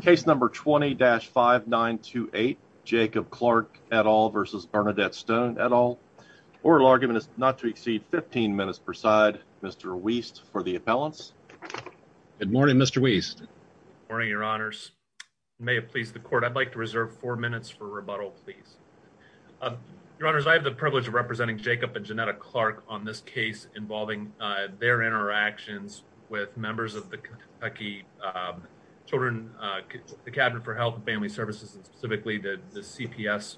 case number 20-5928 Jacob Clark et al versus Bernadette Stone et al oral argument is not to exceed 15 minutes per side Mr. Weist for the appellants good morning Mr. Weist morning your honors may it please the court I'd like to reserve four minutes for rebuttal please your honors I have the privilege of representing Jacob and Janetta Clark on this case involving their interactions with members of the Kentucky children the cabinet for health and family services and specifically the CPS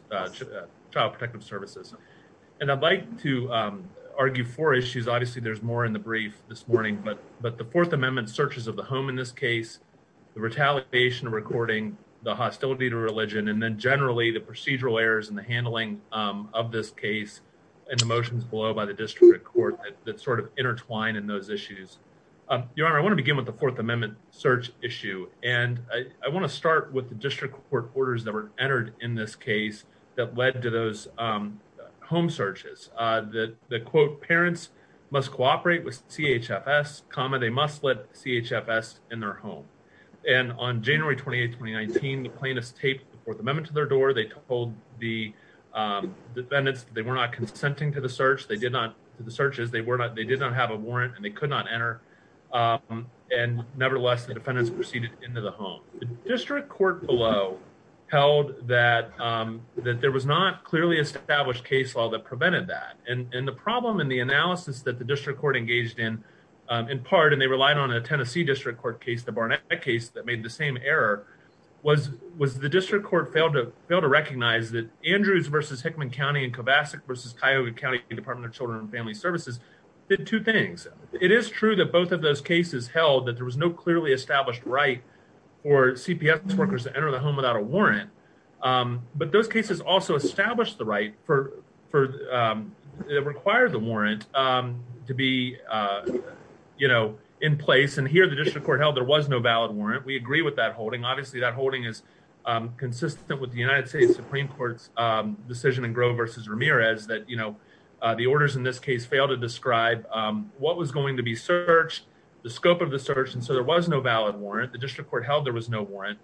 child protective services and I'd like to argue four issues obviously there's more in the brief this morning but but the fourth amendment searches of the home in this case the retaliation recording the hostility to religion and then generally the procedural errors and the handling of this case and the motions below by the district court that sort of intertwine in those issues um your honor I want to begin with the fourth amendment search issue and I want to start with the district court orders that were entered in this case that led to those um home searches uh that the quote parents must cooperate with chfs comma they must let chfs in their home and on January 28 2019 the plaintiff's taped the fourth amendment to their door they told the um defendants they were not consenting to the search they did not the searches they were not they did not have a warrant and they could not enter um and nevertheless the defendants proceeded into the home the district court below held that um that there was not clearly established case law that prevented that and and the problem in the analysis that the district court engaged in um in part and they relied on a Tennessee district court case the Barnett case that made the same error was was the district court failed to fail to recognize that Andrews versus Hickman County and Kovacic versus Cuyahoga County Department of Children and Family Services did two things it is true that both of those cases held that there was no clearly established right for cps workers to enter the home without a warrant um but those cases also established the right for for um that required the warrant um to be uh you know in place and here the district court held there was no valid warrant we agree with that holding obviously that holding is um consistent with the United States Supreme Court's um decision and grow versus Ramirez that you know uh the orders in this case fail to describe um what was going to be searched the scope of the search and so there was no valid warrant the district court held there was no warrant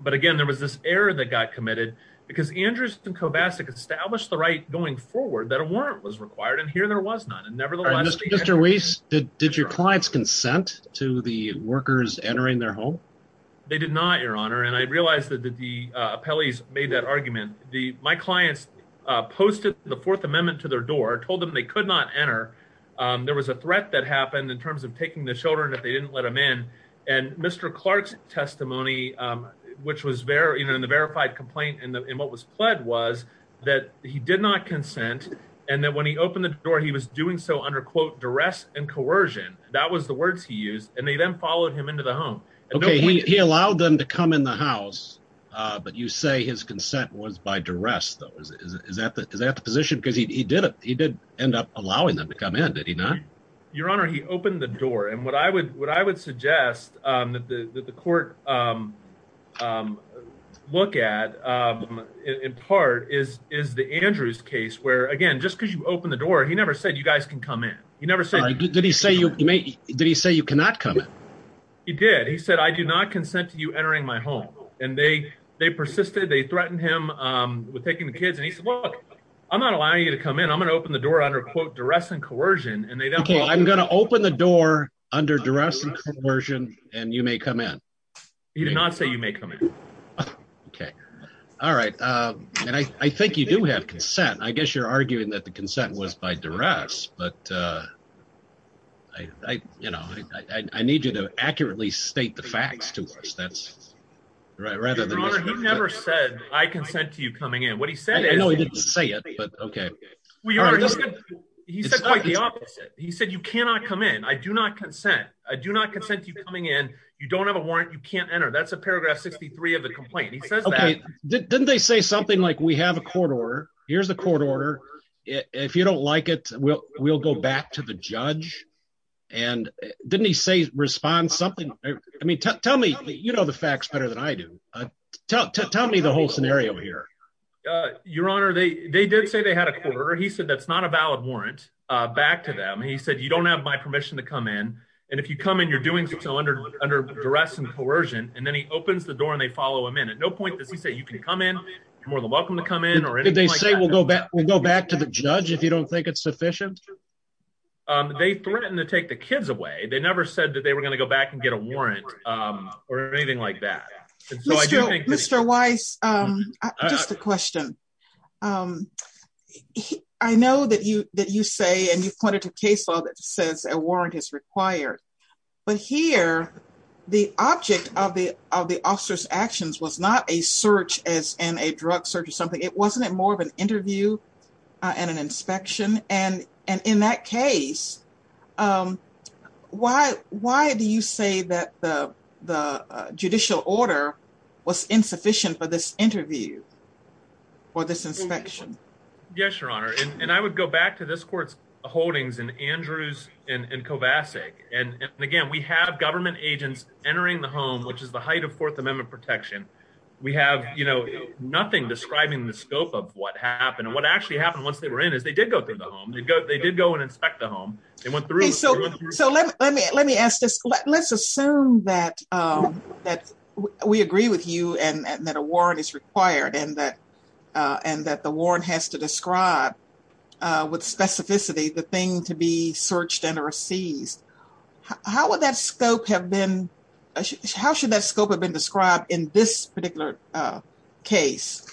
but again there was this error that got committed because Andrews and Kovacic established the right going forward that a warrant was required and here there was none and nevertheless Mr. Reese did did your clients consent to the workers entering their home they did not your made that argument the my clients uh posted the fourth amendment to their door told them they could not enter um there was a threat that happened in terms of taking the children if they didn't let him in and Mr. Clark's testimony um which was very you know in the verified complaint and what was pled was that he did not consent and that when he opened the door he was doing so under quote duress and coercion that was the words he used and they then followed him into the home okay he allowed them to come in the house uh but you say his consent was by duress though is is that the is that the position because he did it he did end up allowing them to come in did he not your honor he opened the door and what i would what i would suggest um that the that the court um um look at um in part is is the Andrews case where again just because you open the door he never said you guys can come in he never said did he say you may did he say you cannot come in he did he said i do not consent to you entering my home and they they persisted they threatened him um with taking the kids and he said look i'm not allowing you to come in i'm gonna open the door under quote duress and coercion and they don't well i'm gonna open the door under duress and coercion and you may come in he did not say you may come in okay all right um and i i think you do have consent i guess you're arguing that the consent was by duress but uh i i you know i i need you to accurately state the facts to us that's right rather than he never said i consent to you coming in what he said i know he didn't say it but okay well your honor he said he said you cannot come in i do not consent i do not consent to you coming in you don't have a warrant you can't enter that's a paragraph 63 of the complaint he says okay didn't they say something like we have a court order here's the court order if you don't like it we'll we'll go back to the respond something i mean tell me you know the facts better than i do uh tell me the whole scenario here uh your honor they they did say they had a quarter he said that's not a valid warrant uh back to them he said you don't have my permission to come in and if you come in you're doing so under under duress and coercion and then he opens the door and they follow him in at no point does he say you can come in you're more than welcome to come in or anything they say we'll go back we'll go back to the judge if you don't think it's sufficient um they threatened to take the they were going to go back and get a warrant um or anything like that mr weiss um just a question um i know that you that you say and you've pointed to case law that says a warrant is required but here the object of the of the officer's actions was not a search as in a drug search or something it wasn't it more of an interview and an inspection and and in that case um why why do you say that the the judicial order was insufficient for this interview for this inspection yes your honor and i would go back to this court's holdings and andrews and kovacic and again we have government agents entering the home which is the height of fourth amendment protection we have you know nothing describing the scope of what happened and what actually happened once they were in is they did go through the home they'd go they did go and they went through so so let me let me ask this let's assume that um that we agree with you and that a warrant is required and that uh and that the warrant has to describe uh with specificity the thing to be searched and or seized how would that scope have been how should that scope have been described in this particular uh case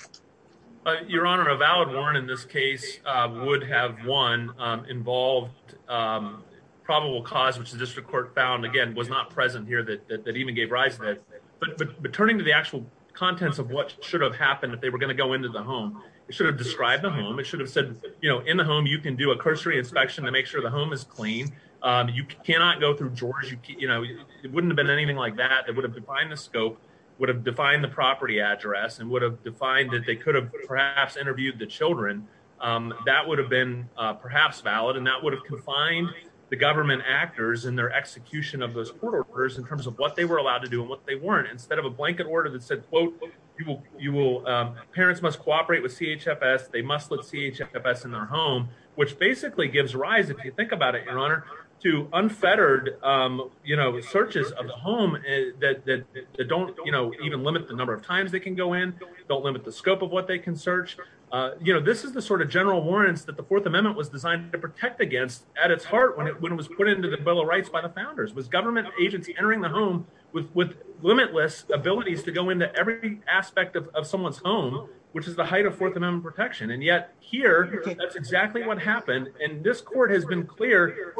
your honor a valid warrant in this case uh would have one um involved um probable cause which the district court found again was not present here that that even gave rise to that but but turning to the actual contents of what should have happened if they were going to go into the home it should have described the home it should have said you know in the home you can do a cursory inspection to make sure the home is clean um you cannot go through drawers you know it wouldn't have been anything like that that would have defined the scope would have defined the property address and would have defined that they could have perhaps interviewed the children um that would have been uh perhaps valid and that would have confined the government actors and their execution of those court orders in terms of what they were allowed to do and what they weren't instead of a blanket order that said quote you will you will um parents must cooperate with chfs they must let chfs in their home which basically gives rise if you think about it your honor to unfettered um you know searches of the home that that don't you know even limit the number of times they can go in don't limit the scope of what they can search uh you know this is the sort of general warrants that the fourth amendment was designed to protect against at its heart when it was put into the bill of rights by the founders was government agency entering the home with with limitless abilities to go into every aspect of someone's home which is the height of fourth amendment protection and yet here that's exactly what happened and this court has been clear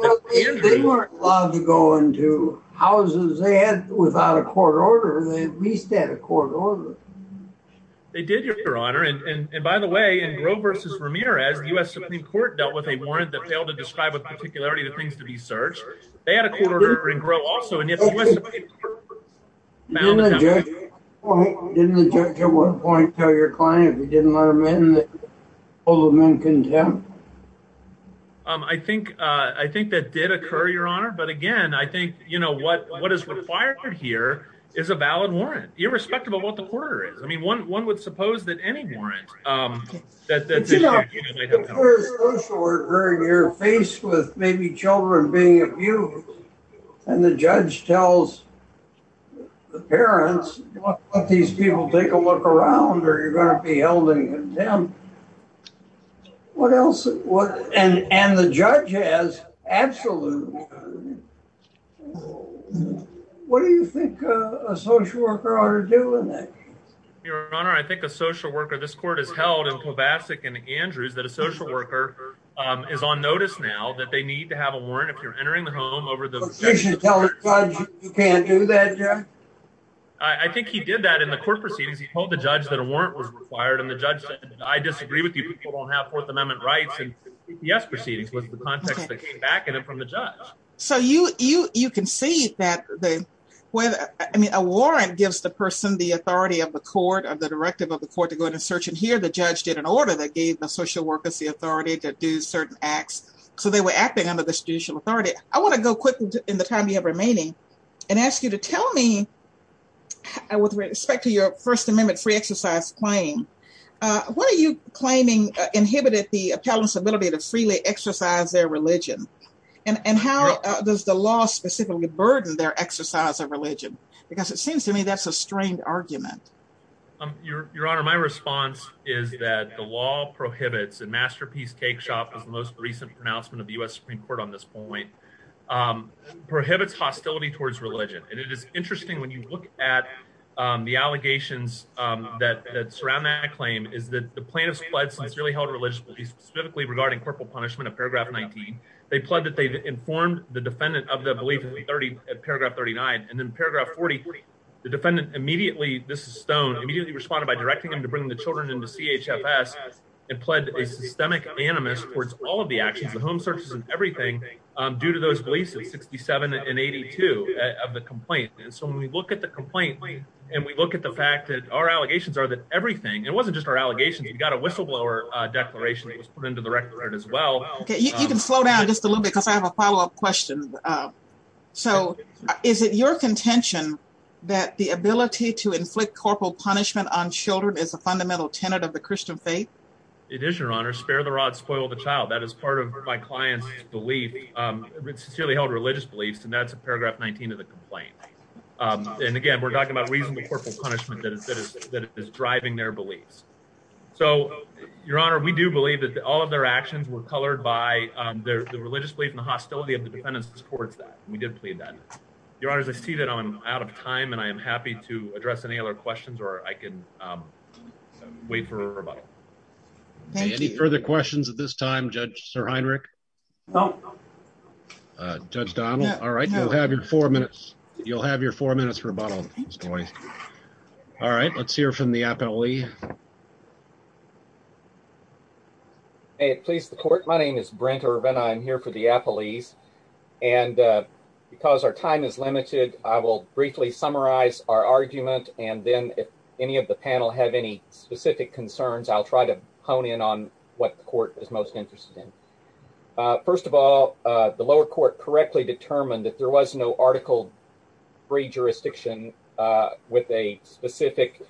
they weren't allowed to go into houses they had without a court order they at least had a court order they did your honor and and by the way in grow versus vermeer as the u.s supreme court dealt with a warrant that failed to describe with particularity the things to be searched they had a quarter and grow also and yet didn't the judge at one point tell your client if he didn't let him in that all the men contempt um i think uh i think that did occur your honor but again i think you know what what is required here is a valid warrant irrespective of what the quarter is i mean one one would suppose that any warrant um that you know you're faced with maybe children being abused and the judge tells the parents let these people take a look around or you're going contempt what else what and and the judge has absolutely what do you think a social worker ought to do in that your honor i think a social worker this court has held in kovacic and andrews that a social worker um is on notice now that they need to have a warrant if you're entering the home over the position you can't do that yeah i i think he did that in the court proceedings he told the judge that a warrant was required and the judge said i disagree with you people don't have fourth amendment rights and yes proceedings was the context that came back and then from the judge so you you you can see that the way i mean a warrant gives the person the authority of the court of the directive of the court to go ahead and search and hear the judge did an order that gave the social workers the authority to do certain acts so they were acting under the judicial authority i want to go quickly in the time you have remaining and ask you to tell me with respect to your first amendment free exercise claim uh what are you claiming inhibited the appellants ability to freely exercise their religion and and how does the law specifically burden their exercise of religion because it seems to me that's a strained argument um your your honor my response is that the law prohibits and masterpiece cake shop is the most recent pronouncement of the u.s supreme court on um prohibits hostility towards religion and it is interesting when you look at um the allegations um that that surround that claim is that the plaintiff's blood sincerely held religiously specifically regarding corporal punishment of paragraph 19 they pled that they informed the defendant of the belief in 30 at paragraph 39 and then paragraph 40 the defendant immediately this stone immediately responded by directing them to bring the children into chfs and pled a due to those beliefs of 67 and 82 of the complaint and so when we look at the complaint and we look at the fact that our allegations are that everything it wasn't just our allegations we've got a whistleblower uh declaration that was put into the record as well okay you can slow down just a little bit because i have a follow-up question uh so is it your contention that the ability to inflict corporal punishment on children is a fundamental tenet of the christian it is your honor spare the rod spoil the child that is part of my client's belief um it's sincerely held religious beliefs and that's a paragraph 19 of the complaint um and again we're talking about reasonable corporal punishment that is that is driving their beliefs so your honor we do believe that all of their actions were colored by um their the religious belief in the hostility of the defendants supports that we did plead that your honors i see that i'm out of time and i am any further questions at this time judge sir heinrich no uh judge donald all right you'll have your four minutes you'll have your four minutes for a bottle all right let's hear from the appellee may it please the court my name is brent urban i'm here for the appellees and uh because our time is limited i will briefly summarize our argument and then if any of the hone in on what the court is most interested in first of all the lower court correctly determined that there was no article free jurisdiction uh with a specific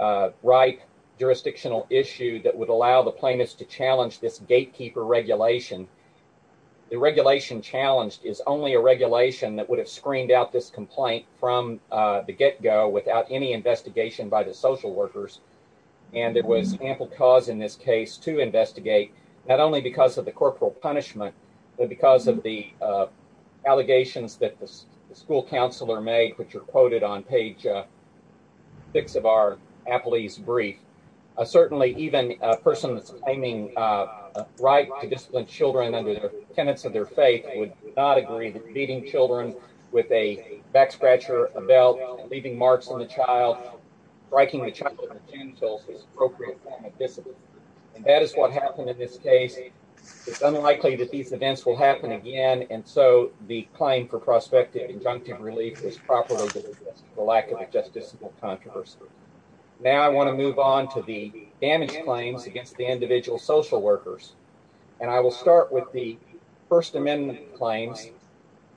uh right jurisdictional issue that would allow the plaintiffs to challenge this gatekeeper regulation the regulation challenged is only a regulation that would have screened out this complaint from uh the get-go without any investigation by the social workers and there was ample cause in this case to investigate not only because of the corporal punishment but because of the uh allegations that the school counselor made which are quoted on page uh six of our appellee's brief uh certainly even a person that's claiming uh right to discipline children under the tenets of their faith would not agree beating children with a back scratcher a belt leaving marks on the child striking the child and that is what happened in this case it's unlikely that these events will happen again and so the claim for prospective injunctive relief is properly the lack of a justiciable controversy now i want to move on to the damage claims against the individual social workers and i will start with the first amendment claims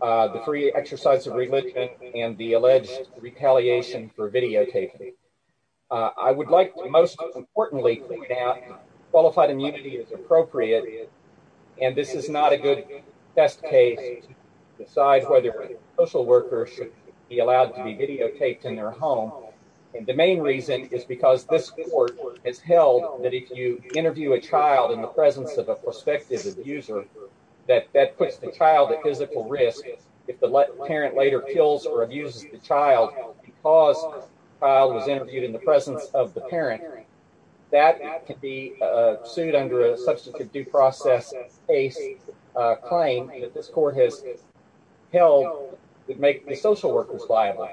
uh the free exercise of religion and the alleged retaliation for videotaping i would like to most importantly point out qualified immunity is appropriate and this is not a good best case to decide whether social workers should be allowed to be videotaped in their home and the main reason is because this court has held that if you interview a child in the presence of a prospective abuser that that puts the child at physical risk if the parent later kills or abuses the child because the child was interviewed in the presence of the parent that could be sued under a substantive due process case claim that this court has held would make the social workers liable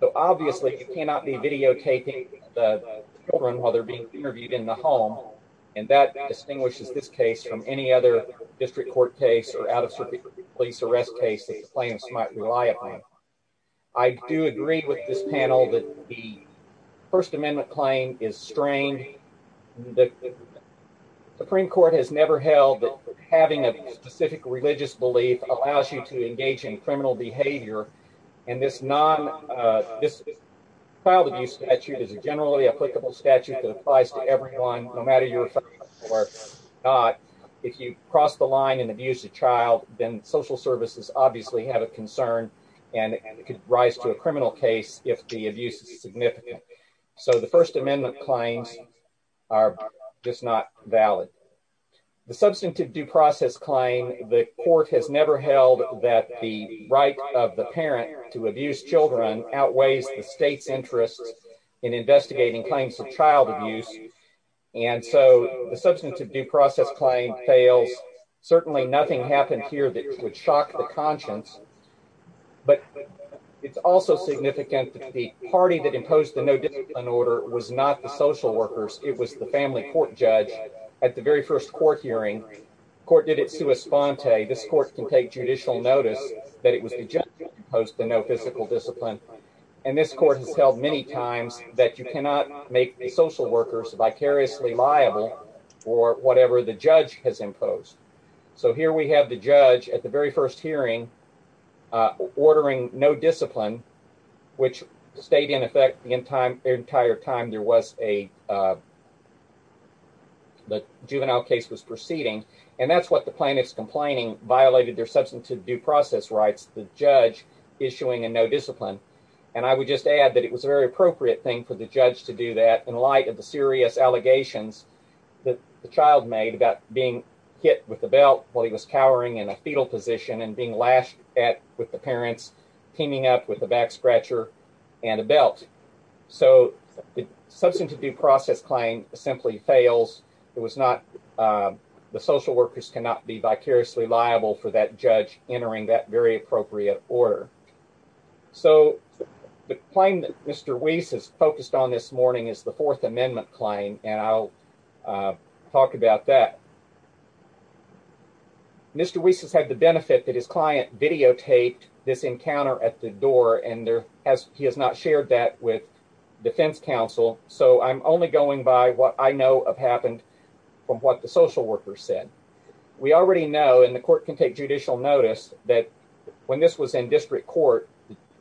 so obviously you cannot be videotaping the children while they're being interviewed in the home and that distinguishes this case from any other district court case or out-of-circuit police arrest case that the plaintiffs might rely upon i do agree with this panel that the first amendment claim is strained the supreme court has never held that having a specific religious belief allows you to engage in criminal behavior and this non uh this child abuse statute is a generally applicable statute that applies to everyone no matter your or not if you cross the line and abuse a child then social services obviously have a concern and it could rise to a criminal case if the abuse is significant so the first amendment claims are just not valid the substantive due process claim the court has never held that the right of the parent to abuse children outweighs the state's interest in investigating claims of child abuse and so the substantive due process claim fails certainly nothing happened here that would shock the conscience but it's also significant that the party that imposed the no discipline order was not the social workers it was the family court judge at the very first court hearing court did it sua sponte this court can take judicial notice that it was the judge opposed to no physical discipline and this court has held many times that you cannot make the social workers vicariously liable or whatever the judge has imposed so here we have the judge at the very first hearing uh ordering no discipline which stayed in effect the entire time there was a uh the juvenile case was proceeding and that's what the plaintiff's complaining violated their substantive due process rights the judge issuing a no discipline and i would just add that it was a very appropriate thing for the judge to do that in light of the serious allegations that the child made about being hit with the belt while he was cowering in a fetal position and being lashed at with the parents teaming up with the back scratcher and a belt so the substantive due process claim simply fails it was not uh the social workers cannot be vicariously liable for that judge entering that very appropriate order so the claim that mr weiss has focused on this morning is the fourth amendment claim and i'll talk about that mr weiss has had the benefit that his client videotaped this encounter at the door and there as he has not shared that with defense counsel so i'm only going by what i know of happened from what the social workers said we already know and the court can take judicial notice that when this was in district court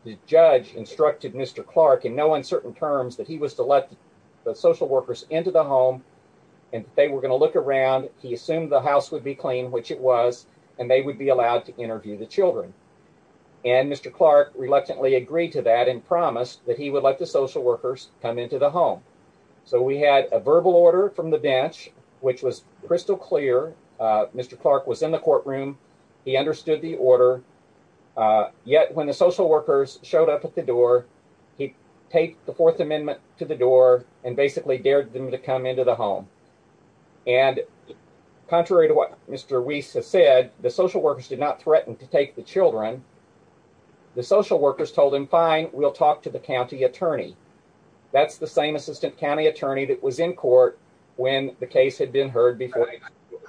the judge instructed mr clark in no uncertain terms that he was to let the social workers into the home and they were going to look around he assumed the house would be clean which it was and they would be allowed to interview the children and mr clark reluctantly agreed to that and promised that he would let the social workers come into the home so we had a verbal order from the bench which was crystal clear uh mr clark was in the courtroom he understood the order uh yet when the social workers showed up at the door he taped the fourth amendment to the door and basically dared them to come into the home and contrary to what mr weiss has said the social workers did not threaten to take the children the social workers told him fine we'll talk to the county attorney that's the same assistant county attorney that was in court when the case had been heard before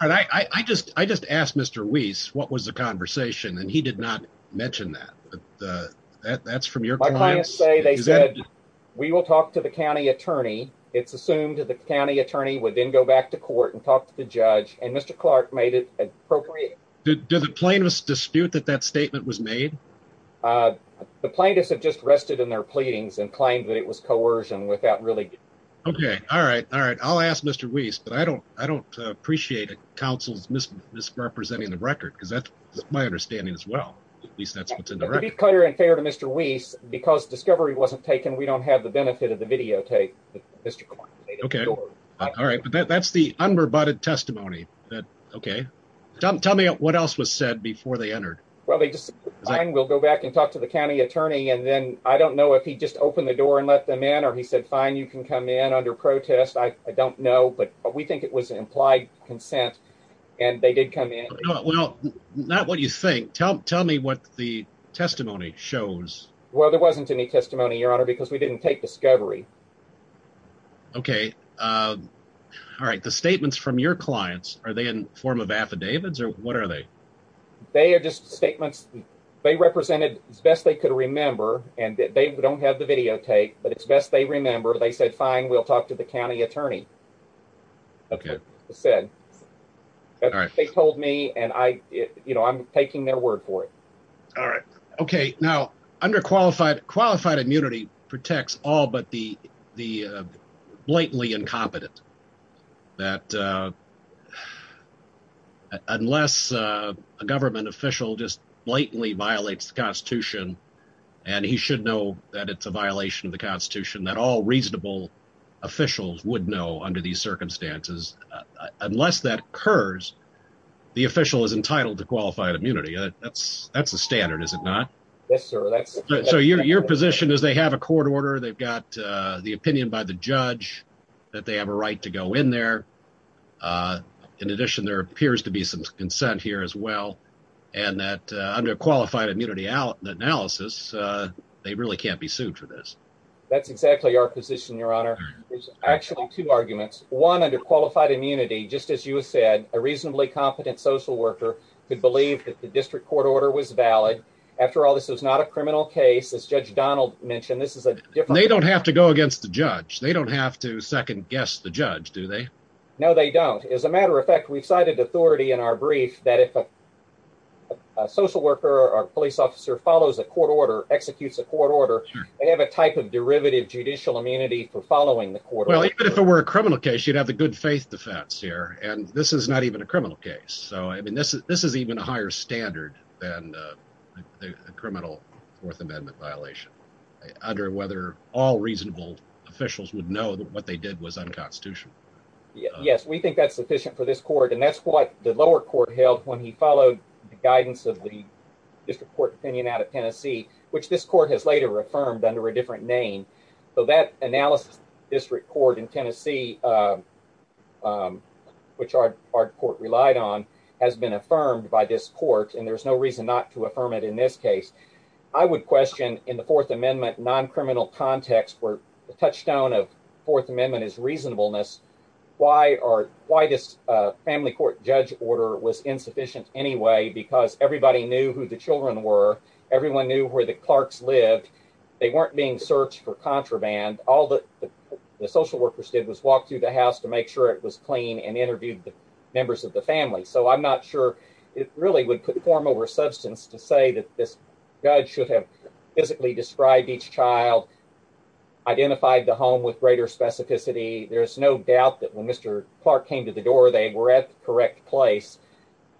and i i just i just asked mr weiss what was the conversation and he did not mention that the that that's from your clients say they said we will talk to the county attorney it's assumed the county attorney would then go back to court and talk to the judge and appropriate do the plaintiffs dispute that that statement was made uh the plaintiffs have just rested in their pleadings and claimed that it was coercion without really okay all right all right i'll ask mr weiss but i don't i don't appreciate it counsel's misrepresenting the record because that's my understanding as well at least that's what's in the record clear and fair to mr weiss because discovery wasn't taken we don't have the benefit of the videotape mr okay all right but that's the unverbotted testimony that okay tell me what else was said before they entered well they just fine we'll go back and talk to the county attorney and then i don't know if he just opened the door and let them in or he said fine you can come in under protest i i don't know but we think it was implied consent and they did come in well not what you think tell me what the testimony shows well there wasn't any testimony your honor because we didn't take discovery okay um all right the statements from your clients are they in form of affidavits or what are they they are just statements they represented as best they could remember and they don't have the videotape but it's best they remember they said fine we'll talk to the county attorney okay said all right they told me and i you know i'm taking their word for it all right okay now under qualified qualified immunity protects all but the the blatantly incompetent that uh unless a government official just blatantly violates the constitution and he should know that it's a violation of the constitution that all reasonable officials would know under these circumstances unless that occurs the official is entitled to qualified immunity that's that's the standard is it not yes sir that's so your position is they have a court order they've got uh the opinion by the judge that they have a right to go in there uh in addition there appears to be some consent here as well and that under qualified immunity out the analysis uh they really can't be sued for this that's exactly our position your honor there's actually two arguments one under qualified immunity just as you said a reasonably competent social worker could believe that the district court order was valid after all this is not a criminal case as judge donald mentioned this is a different they don't have to go against the judge they don't have to second guess the judge do they no they don't as a matter of fact we've cited authority in our brief that if a social worker or police officer follows a court order executes a court order they have a type of derivative judicial immunity for following the court well even if it were a criminal case you'd have the good faith defense here and this is not even a this is even a higher standard than the criminal fourth amendment violation under whether all reasonable officials would know that what they did was unconstitutional yes we think that's sufficient for this court and that's what the lower court held when he followed the guidance of the district court opinion out of tennessee which this court has later affirmed under a has been affirmed by this court and there's no reason not to affirm it in this case i would question in the fourth amendment non-criminal context where the touchstone of fourth amendment is reasonableness why are why this uh family court judge order was insufficient anyway because everybody knew who the children were everyone knew where the clarks lived they weren't being searched for contraband all the the social workers did was walk through the house to make sure it was clean and interviewed the members of the family so i'm not sure it really would put form over substance to say that this judge should have physically described each child identified the home with greater specificity there's no doubt that when mr clark came to the door they were at the correct place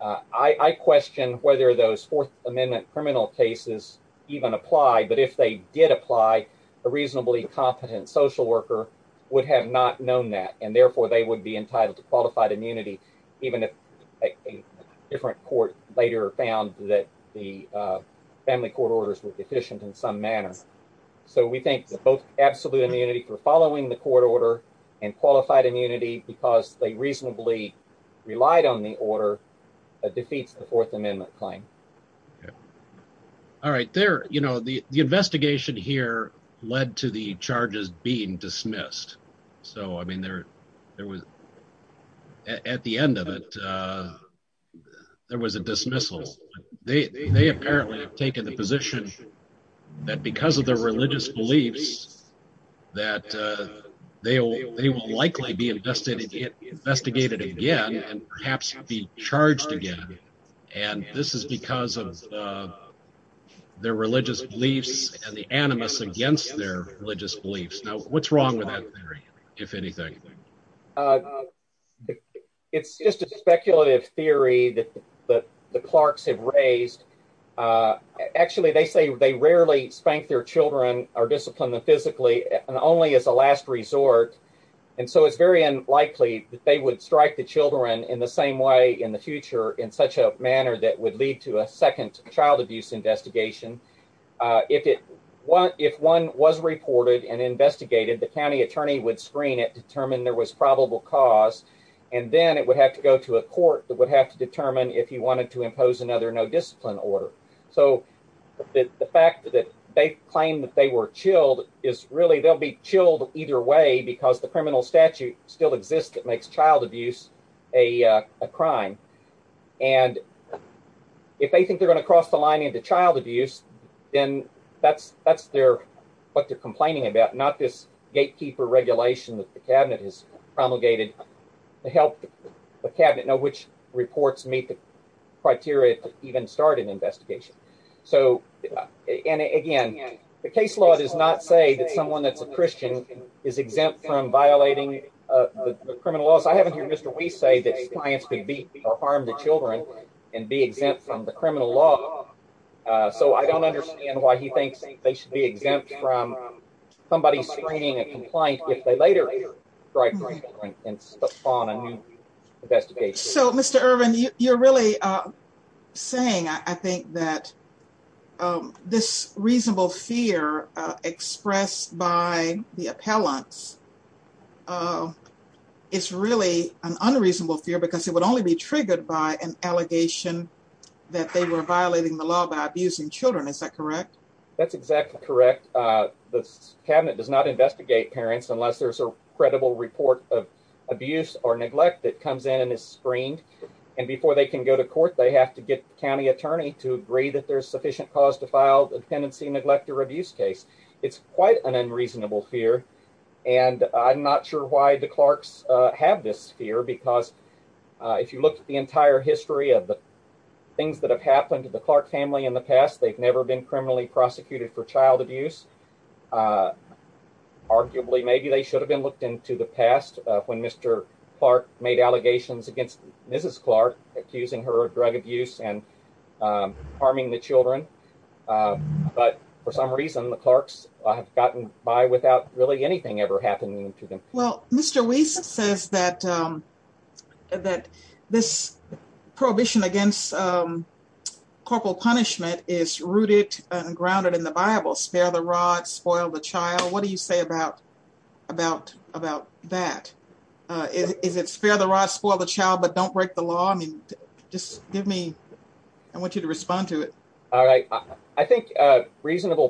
i i question whether those fourth amendment criminal cases even apply but if they did apply a reasonably competent social worker would have not known that therefore they would be entitled to qualified immunity even if a different court later found that the uh family court orders were deficient in some manner so we think that both absolute immunity for following the court order and qualified immunity because they reasonably relied on the order that defeats the fourth amendment claim okay all right there you know the investigation here led to the charges being dismissed so i mean there there was at the end of it uh there was a dismissal they they apparently have taken the position that because of their religious beliefs that uh they will they will likely be invested investigated again and perhaps be charged again and this is because of their religious beliefs and the animus against their religious beliefs now what's wrong with that theory if anything uh it's just a speculative theory that that the clarks have raised uh actually they say they rarely spank their children or discipline them physically and only as a last resort and so it's very unlikely that they would strike the children in the same way in the future in such a manner that would lead to a second child abuse investigation uh if it what if one was reported and investigated the county attorney would screen it determine there was probable cause and then it would have to go to a court that would have to determine if you wanted to impose another no discipline order so the fact that they claim that they were chilled is really they'll be chilled either way because the criminal a uh a crime and if they think they're going to cross the line into child abuse then that's that's their what they're complaining about not this gatekeeper regulation that the cabinet has promulgated to help the cabinet know which reports meet the criteria to even start an investigation so and again the case law does not say that someone that's a christian is exempt from uh the criminal laws i haven't heard mr we say that clients could beat or harm the children and be exempt from the criminal law uh so i don't understand why he thinks they should be exempt from somebody screening and compliant if they later strike and spawn a new investigation so mr ervin you're really uh saying i think that um this reasonable fear uh expressed by the appellants uh it's really an unreasonable fear because it would only be triggered by an allegation that they were violating the law by abusing children is that correct that's exactly correct uh this cabinet does not investigate parents unless there's a credible report of abuse or neglect that comes in and is screened and before they can go to court they have to get the county attorney to agree that there's sufficient cause to file the dependency neglect or abuse case it's quite an unreasonable fear and i'm not sure why the clarks uh have this fear because if you look at the entire history of the things that have happened to the clark family in the past they've never been criminally prosecuted for child abuse arguably maybe they should have been looked into the past when mr clark made allegations against mrs clark accusing her of gotten by without really anything ever happening to them well mr weiss says that um that this prohibition against um corporal punishment is rooted and grounded in the bible spare the rod spoil the child what do you say about about about that uh is it spare the rod spoil the child but don't break the law i mean just give me i want you to respond to it all right i think uh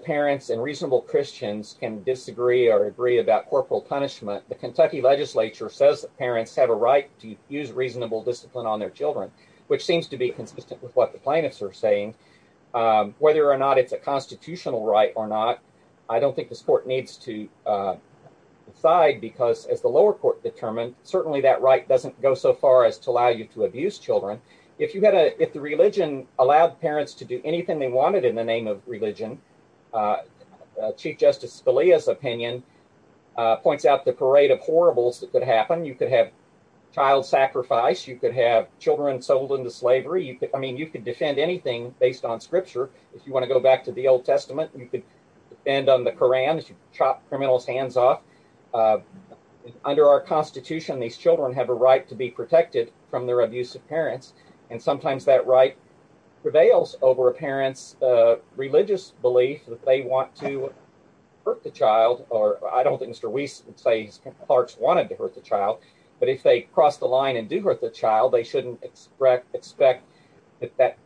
parents and reasonable christians can disagree or agree about corporal punishment the kentucky legislature says that parents have a right to use reasonable discipline on their children which seems to be consistent with what the plaintiffs are saying um whether or not it's a constitutional right or not i don't think this court needs to uh decide because as the lower court determined certainly that right doesn't go so far as to allow you to abuse children if you had a if the religion allowed parents to do anything they wanted in the name of religion chief justice belia's opinion uh points out the parade of horribles that could happen you could have child sacrifice you could have children sold into slavery you could i mean you could defend anything based on scripture if you want to go back to the old testament you could depend on the quran as you chop criminals hands off uh under our constitution these children have a right to be protected from their abusive parents and sometimes that right prevails over a parent's religious belief that they want to hurt the child or i don't think mr weiss would say clarks wanted to hurt the child but if they cross the line and do hurt the child they shouldn't expect expect that that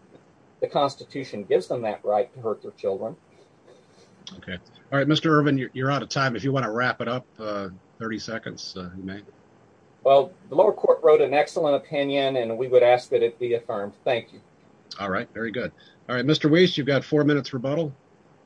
the constitution gives them that right to hurt their children okay all right mr ervin you're out of time if you want to wrap it up uh 30 seconds you may well the lower court wrote an excellent opinion and we would ask that it be affirmed thank you all right very good all right mr weiss you've got four minutes rebuttal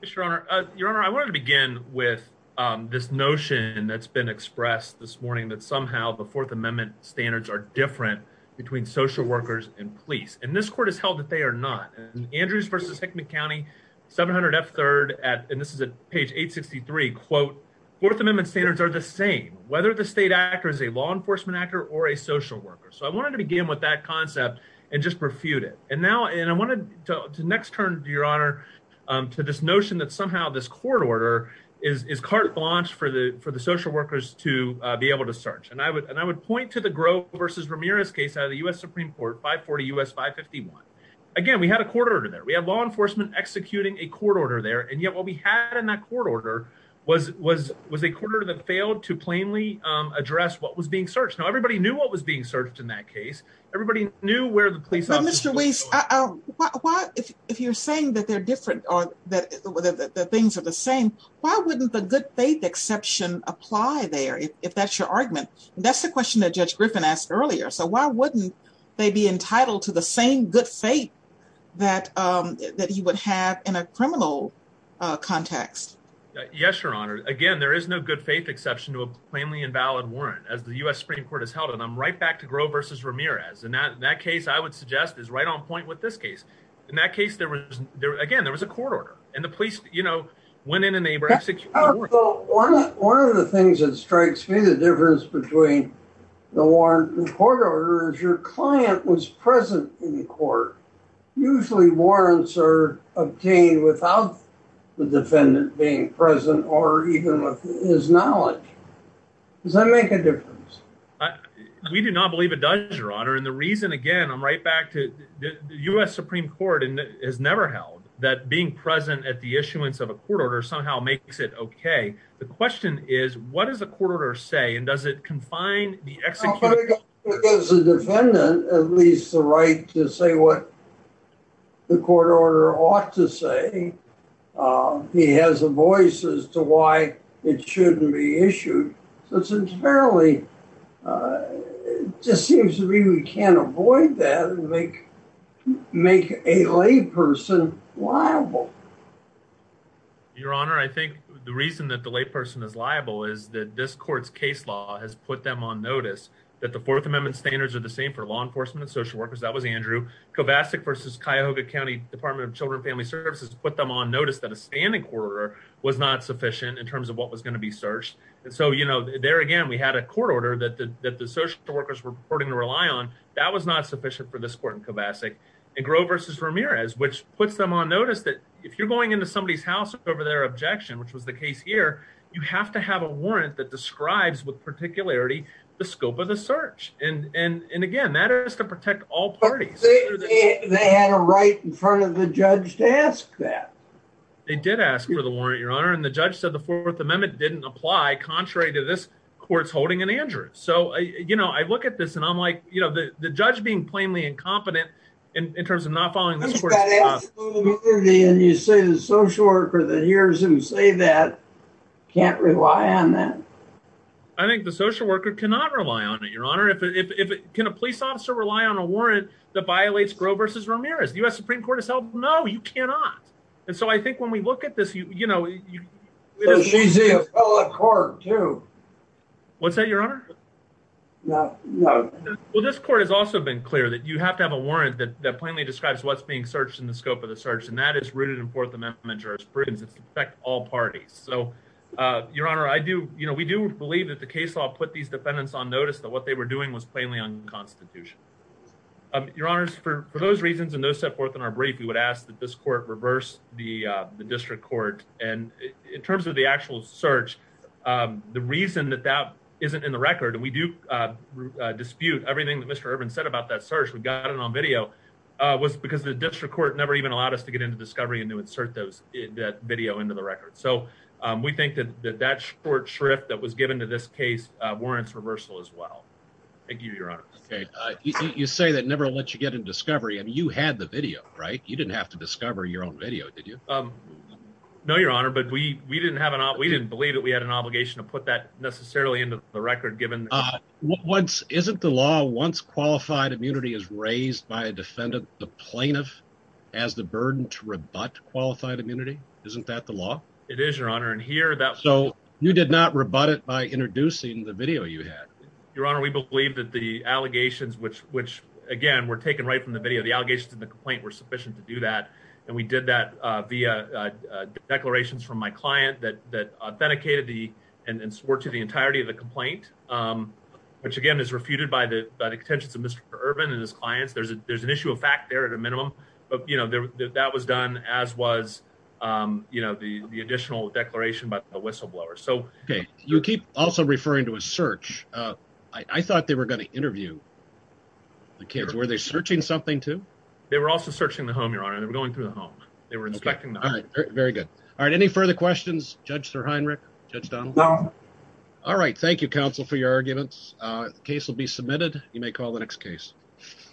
yes your honor uh your honor i wanted to begin with um this notion that's been expressed this morning that somehow the fourth amendment standards are different between social workers and police and this court has held that they are not andrews versus hickman county 700 f third at and this is at page 863 quote fourth amendment standards are the same whether the state actor is a law enforcement actor or a social worker so i wanted to begin with that concept and just refute it and now and i wanted to next turn to your honor um to this notion that somehow this court order is is carte blanche for the for the social workers to uh be able to search and i would and i would point to the grove versus ramirez case out of the u.s supreme court 540 us 551 again we had a court order there we had law enforcement executing a court order there and yet what we had in that court order was was was a quarter that failed to plainly um address what was being searched now everybody knew what was being searched in that case everybody knew where the police officer was um why if if you're saying that they're different or that the things are the same why wouldn't the good faith exception apply there if that's your argument that's the question that judge griffin asked earlier so why wouldn't they be entitled to the same good faith that um that he would have in a criminal uh context yes your honor again there is no good faith exception to a plainly invalid warrant as the u.s supreme court has held and i'm right back to grow versus and that in that case i would suggest is right on point with this case in that case there was there again there was a court order and the police you know went in and they were executed one of the things that strikes me the difference between the warrant and court order is your client was present in court usually warrants are obtained without the defendant being present or even with his knowledge does that make a difference we do not believe it does your honor and the reason again i'm right back to the u.s supreme court and has never held that being present at the issuance of a court order somehow makes it okay the question is what does the court order say and does it confine the execution as a defendant at least the right to say what the court order ought to say he has a voice as to why it shouldn't be issued so it's entirely uh it just seems to me we can't avoid that and make make a layperson liable your honor i think the reason that the layperson is liable is that this court's case law has put them on notice that the fourth amendment standards are the same for law enforcement and social workers that was andrew kovacic versus cuyahoga county department of children family services put them on notice that a standing quarter was not sufficient in terms of what was going to be searched and so you know there again we had a court order that the that the social workers were reporting to rely on that was not sufficient for this court in kovacic and grove versus ramirez which puts them on notice that if you're going into somebody's house over their objection which was the case here you have to have a warrant that describes with particularity the scope of the search and and and again that is to protect all parties they had a right in front of the judge to ask that they did ask for the warrant your honor and the judge said the fourth amendment didn't apply contrary to this court's holding in andrew so you know i look at this and i'm like you know the the judge being plainly incompetent in in terms of not following this and you say the social worker that hears him say that can't rely on that i think the social worker cannot rely on it your honor if if can a police officer rely on a warrant that violates grow versus ramirez the u.s supreme court has held no you cannot and so i think when we look at this you you know she's a court too what's that your honor no no well this court has also been clear that you have to have a warrant that that plainly describes what's being searched in the scope of the search and that is rooted in fourth amendment jurors prisons it's affect all parties so uh your honor i do you know we do believe that the case law put these defendants on notice that what they were doing was plainly unconstitutional um your honors for for those reasons and those set forth in our brief we would ask that this court reverse the uh the district court and in terms of the actual search um the reason that that isn't in the record and we do uh dispute everything that mr urban said about that search we got it on video uh was because the district court never even allowed us to get into discovery and to insert those that video into the record so um we think that that short shrift that was you say that never let you get in discovery and you had the video right you didn't have to discover your own video did you um no your honor but we we didn't have an op we didn't believe that we had an obligation to put that necessarily into the record given uh once isn't the law once qualified immunity is raised by a defendant the plaintiff has the burden to rebut qualified immunity isn't that the law it is your honor and here that so you did not rebut it by introducing the video you had your honor we believe that the allegations which which again were taken right from the video the allegations in the complaint were sufficient to do that and we did that uh via uh declarations from my client that that authenticated the and and swore to the entirety of the complaint um which again is refuted by the by the contentions of mr urban and his clients there's a there's an issue of fact there at a minimum but you know that was done as was um you know the the additional declaration by the whistleblower so okay you keep also referring to a search uh i i thought they were going to interview the kids were they searching something too they were also searching the home your honor they were going through the home they were inspecting all right very good all right any further questions judge sir heinrich judge donald all right thank you counsel for your arguments uh the case will be submitted you may call the next case